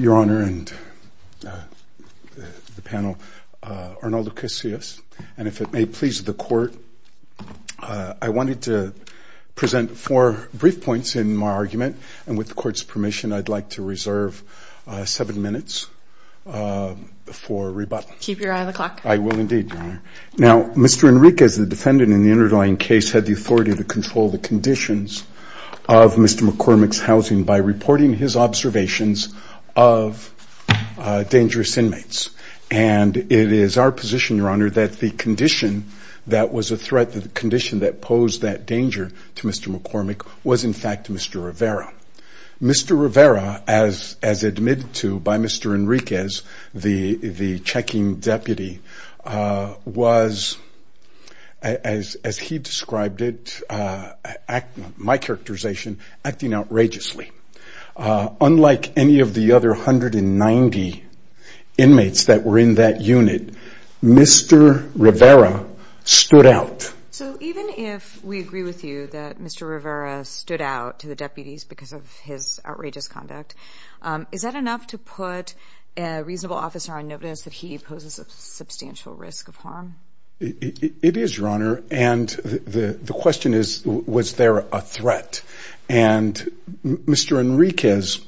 Your Honor and the panel, Arnoldo Casillas, and if it may please the court, I wanted to present four brief points in my argument and with the court's permission I'd like to reserve seven minutes for rebuttal. Keep your eye on the clock. I will indeed, Your Honor. Now, Mr. Enriquez, the defendant in the underlying case, had the authority to control the conditions of Mr. McCormack's housing by reporting his observations of dangerous inmates. And it is our position, Your Honor, that the condition that was a threat, the condition that posed that danger to Mr. McCormack was in fact Mr. Rivera. Mr. Rivera, as admitted to by Mr. Enriquez, the checking deputy, was, as he described it, my characterization, acting outrageously. Unlike any of the other 190 inmates that were in that unit, Mr. Rivera stood out. So even if we agree with you that Mr. Rivera stood out to the deputies because of his outrageous conduct, is that enough to put a reasonable officer on notice that he poses a substantial risk of harm? It is, Your Honor, and the question is, was there a threat? And Mr. Enriquez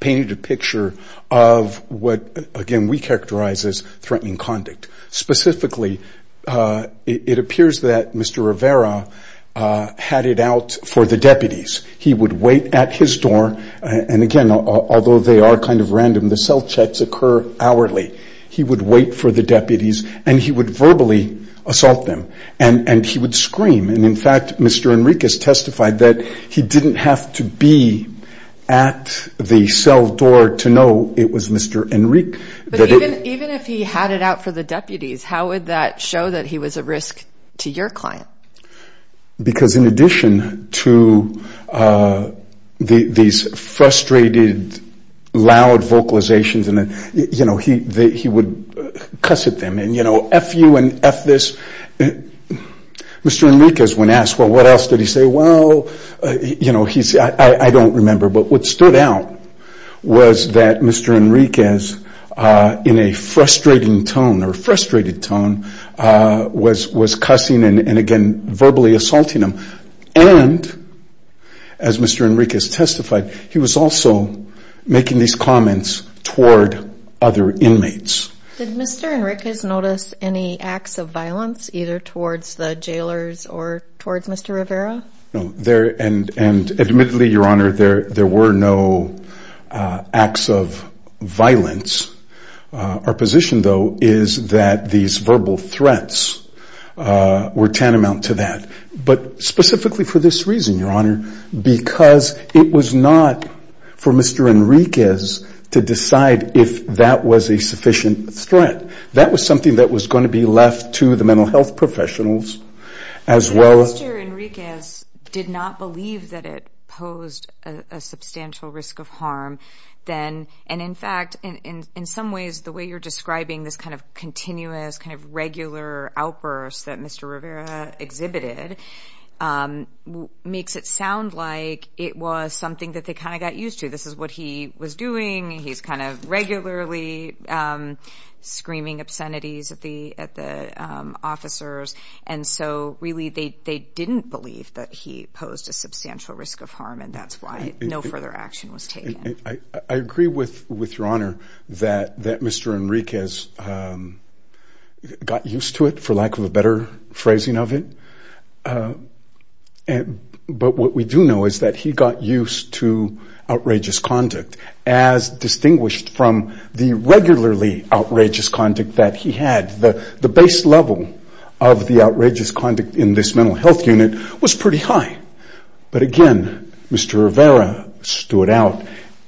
painted a picture of what, again, we characterize as threatening conduct. Specifically, it appears that Mr. Rivera had it out for the deputies. He would wait at his door, and again, although they are kind of random, the cell checks occur hourly. He would wait for the deputies, and he would verbally assault them, and he would scream. And in fact, Mr. Enriquez testified that he didn't have to be at the cell door to know it was Mr. Enrique. But even if he had it out for the deputies, how would that show that he was a risk to your client? Because in addition to these frustrated, loud vocalizations, he would cuss at them. And, you know, F you and F this. Mr. Enriquez, when asked, well, what else did he say? Well, you know, he said, I don't remember. But what stood out was that Mr. Enriquez, in a frustrating tone or frustrated tone, was cussing and, again, verbally assaulting them. And, as Mr. Enriquez testified, he was also making these comments toward other inmates. Did Mr. Enriquez notice any acts of violence either towards the jailers or towards Mr. Rivera? No. And admittedly, Your Honor, there were no acts of violence. Our position, though, is that these verbal threats were tantamount to that, but specifically for this reason, Your Honor, because it was not for Mr. Enriquez to decide if that was a sufficient threat. That was something that was going to be left to the mental health professionals as well as- If Mr. Enriquez did not believe that it posed a substantial risk of harm, then, and in fact, in some ways, the way you're describing this kind of continuous, kind of regular outburst that Mr. Rivera exhibited makes it sound like it was something that they kind of got used to. This is what he was doing. He's kind of regularly screaming obscenities at the officers. And so, really, they didn't believe that he posed a substantial risk of harm, and that's why no further action was taken. I agree with Your Honor that Mr. Enriquez got used to it, for lack of a better phrasing of it. But what we do know is that he got used to outrageous conduct as distinguished from the regularly outrageous conduct that he had. The base level of the outrageous conduct in this mental health unit was pretty high. But, again, Mr. Rivera stood out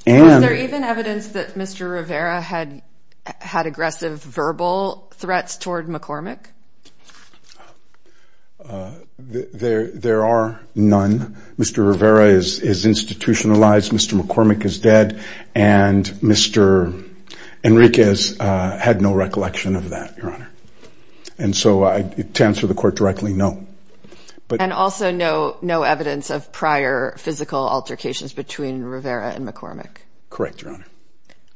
and- Is there even evidence that Mr. Rivera had aggressive verbal threats toward McCormick? There are none. Mr. Rivera is institutionalized. Mr. McCormick is dead, and Mr. Enriquez had no recollection of that, Your Honor. And so, to answer the court directly, no. And also no evidence of prior physical altercations between Rivera and McCormick? Correct, Your Honor.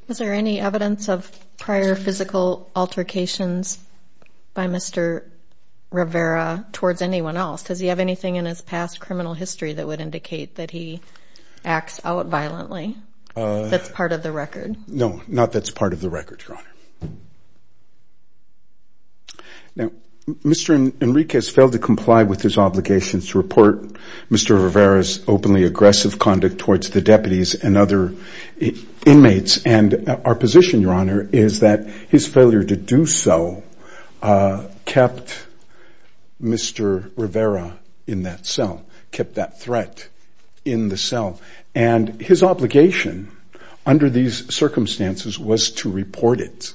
Was there any evidence of prior physical altercations by Mr. Rivera towards anyone else? Does he have anything in his past criminal history that would indicate that he acts out violently that's part of the record? No, not that's part of the record, Your Honor. Now, Mr. Enriquez failed to comply with his obligations to report Mr. Rivera's openly aggressive conduct towards the deputies and other inmates. And our position, Your Honor, is that his failure to do so kept Mr. Rivera in that cell, kept that threat in the cell. And his obligation under these circumstances was to report it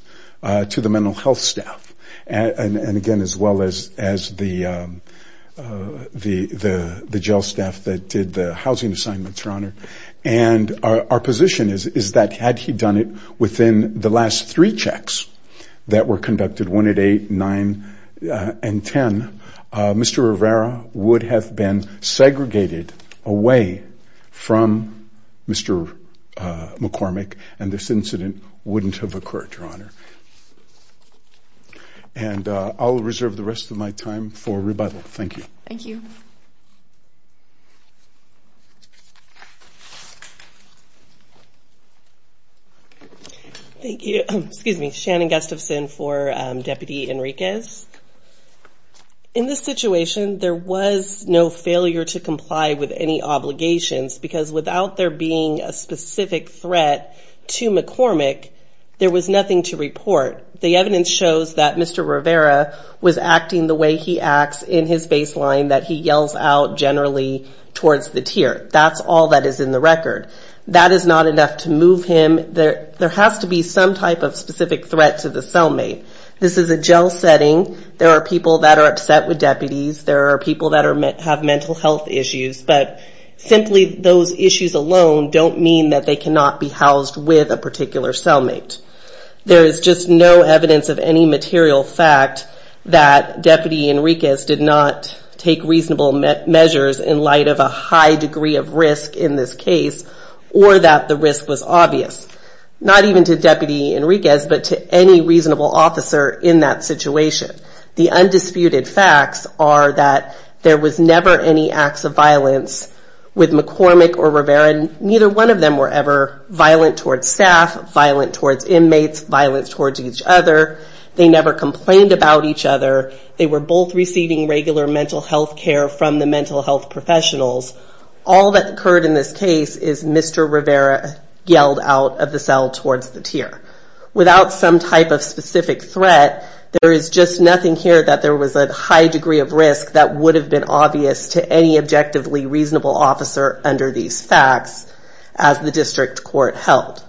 to the mental health staff, and again, as well as the jail staff that did the housing assignments, Your Honor. And our position is that had he done it within the last three checks that were conducted, one at eight, nine, and ten, Mr. Rivera would have been segregated away from Mr. McCormick, and this incident wouldn't have occurred, Your Honor. And I'll reserve the rest of my time for rebuttal. Thank you. Thank you. Thank you. Excuse me. Shannon Gustafson for Deputy Enriquez. In this situation, there was no failure to comply with any obligations because without there being a specific threat to McCormick, there was nothing to report. The evidence shows that Mr. Rivera was acting the way he acts in his baseline, that he yells out generally towards the tier. That's all that is in the record. That is not enough to move him. There has to be some type of specific threat to the cellmate. This is a jail setting. There are people that are upset with deputies. There are people that have mental health issues. But simply those issues alone don't mean that they cannot be housed with a particular cellmate. There is just no evidence of any material fact that Deputy Enriquez did not take reasonable measures in light of a high degree of risk in this case, or that the risk was obvious. Not even to Deputy Enriquez, but to any reasonable officer in that situation. The undisputed facts are that there was never any acts of violence with McCormick or Rivera. Neither one of them were ever violent towards staff, violent towards inmates, violent towards each other. They never complained about each other. They were both receiving regular mental health care from the mental health professionals. All that occurred in this case is Mr. Rivera yelled out of the cell towards the tier. Without some type of specific threat, there is just nothing here that there was a high degree of risk that would have been obvious to any objectively reasonable officer under these facts as the district court held.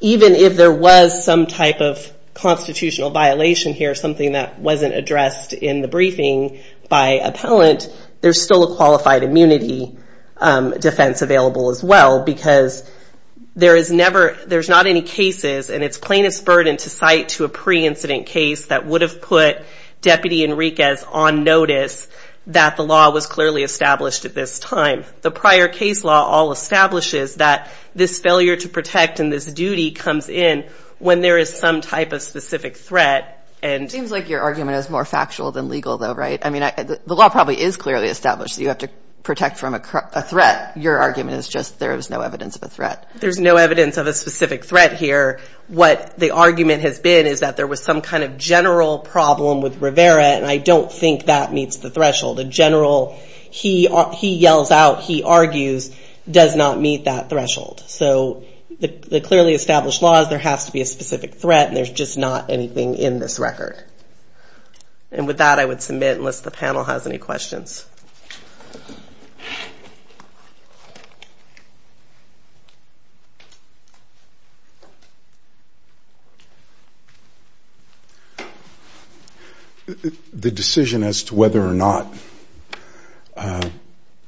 Even if there was some type of constitutional violation here, something that wasn't addressed in the briefing by appellant, there's still a qualified immunity defense available as well. Because there's not any cases, and it's plaintiff's burden to cite to a pre-incident case that would have put Deputy Enriquez on notice that the law was clearly established at this time. The prior case law all establishes that this failure to protect and this duty comes in when there is some type of specific threat. It seems like your argument is more factual than legal though, right? The law probably is clearly established that you have to protect from a threat. Your argument is just there is no evidence of a threat. There's no evidence of a specific threat here. What the argument has been is that there was some kind of general problem with Rivera, and I don't think that meets the threshold. A general he yells out, he argues does not meet that threshold. So the clearly established law is there has to be a specific threat, and there's just not anything in this record. And with that, I would submit unless the panel has any questions. The decision as to whether or not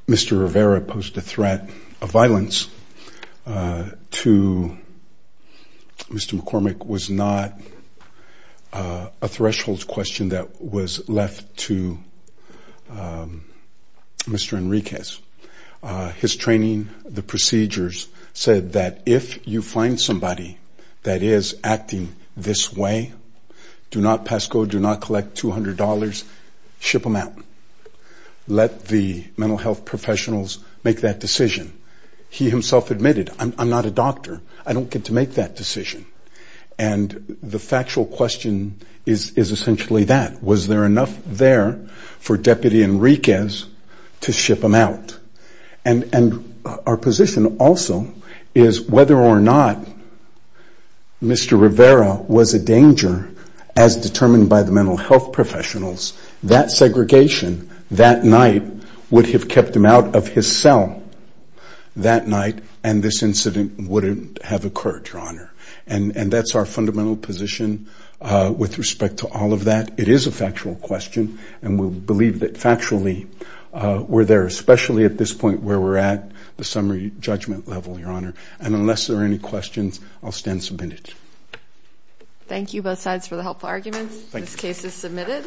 Mr. Rivera posed a threat of violence to Mr. McCormick was not a threshold question that was left to the public. Mr. Enriquez, his training, the procedures said that if you find somebody that is acting this way, do not pass code, do not collect $200, ship them out. Let the mental health professionals make that decision. He himself admitted I'm not a doctor. I don't get to make that decision. And the factual question is essentially that. Was there enough there for Deputy Enriquez to ship them out? And our position also is whether or not Mr. Rivera was a danger as determined by the mental health professionals, that segregation that night would have kept him out of his cell that night, and this incident wouldn't have occurred, Your Honor. And that's our fundamental position with respect to all of that. It is a factual question, and we believe that factually we're there, especially at this point where we're at the summary judgment level, Your Honor. And unless there are any questions, I'll stand submitted. Thank you, both sides, for the helpful arguments. This case is submitted.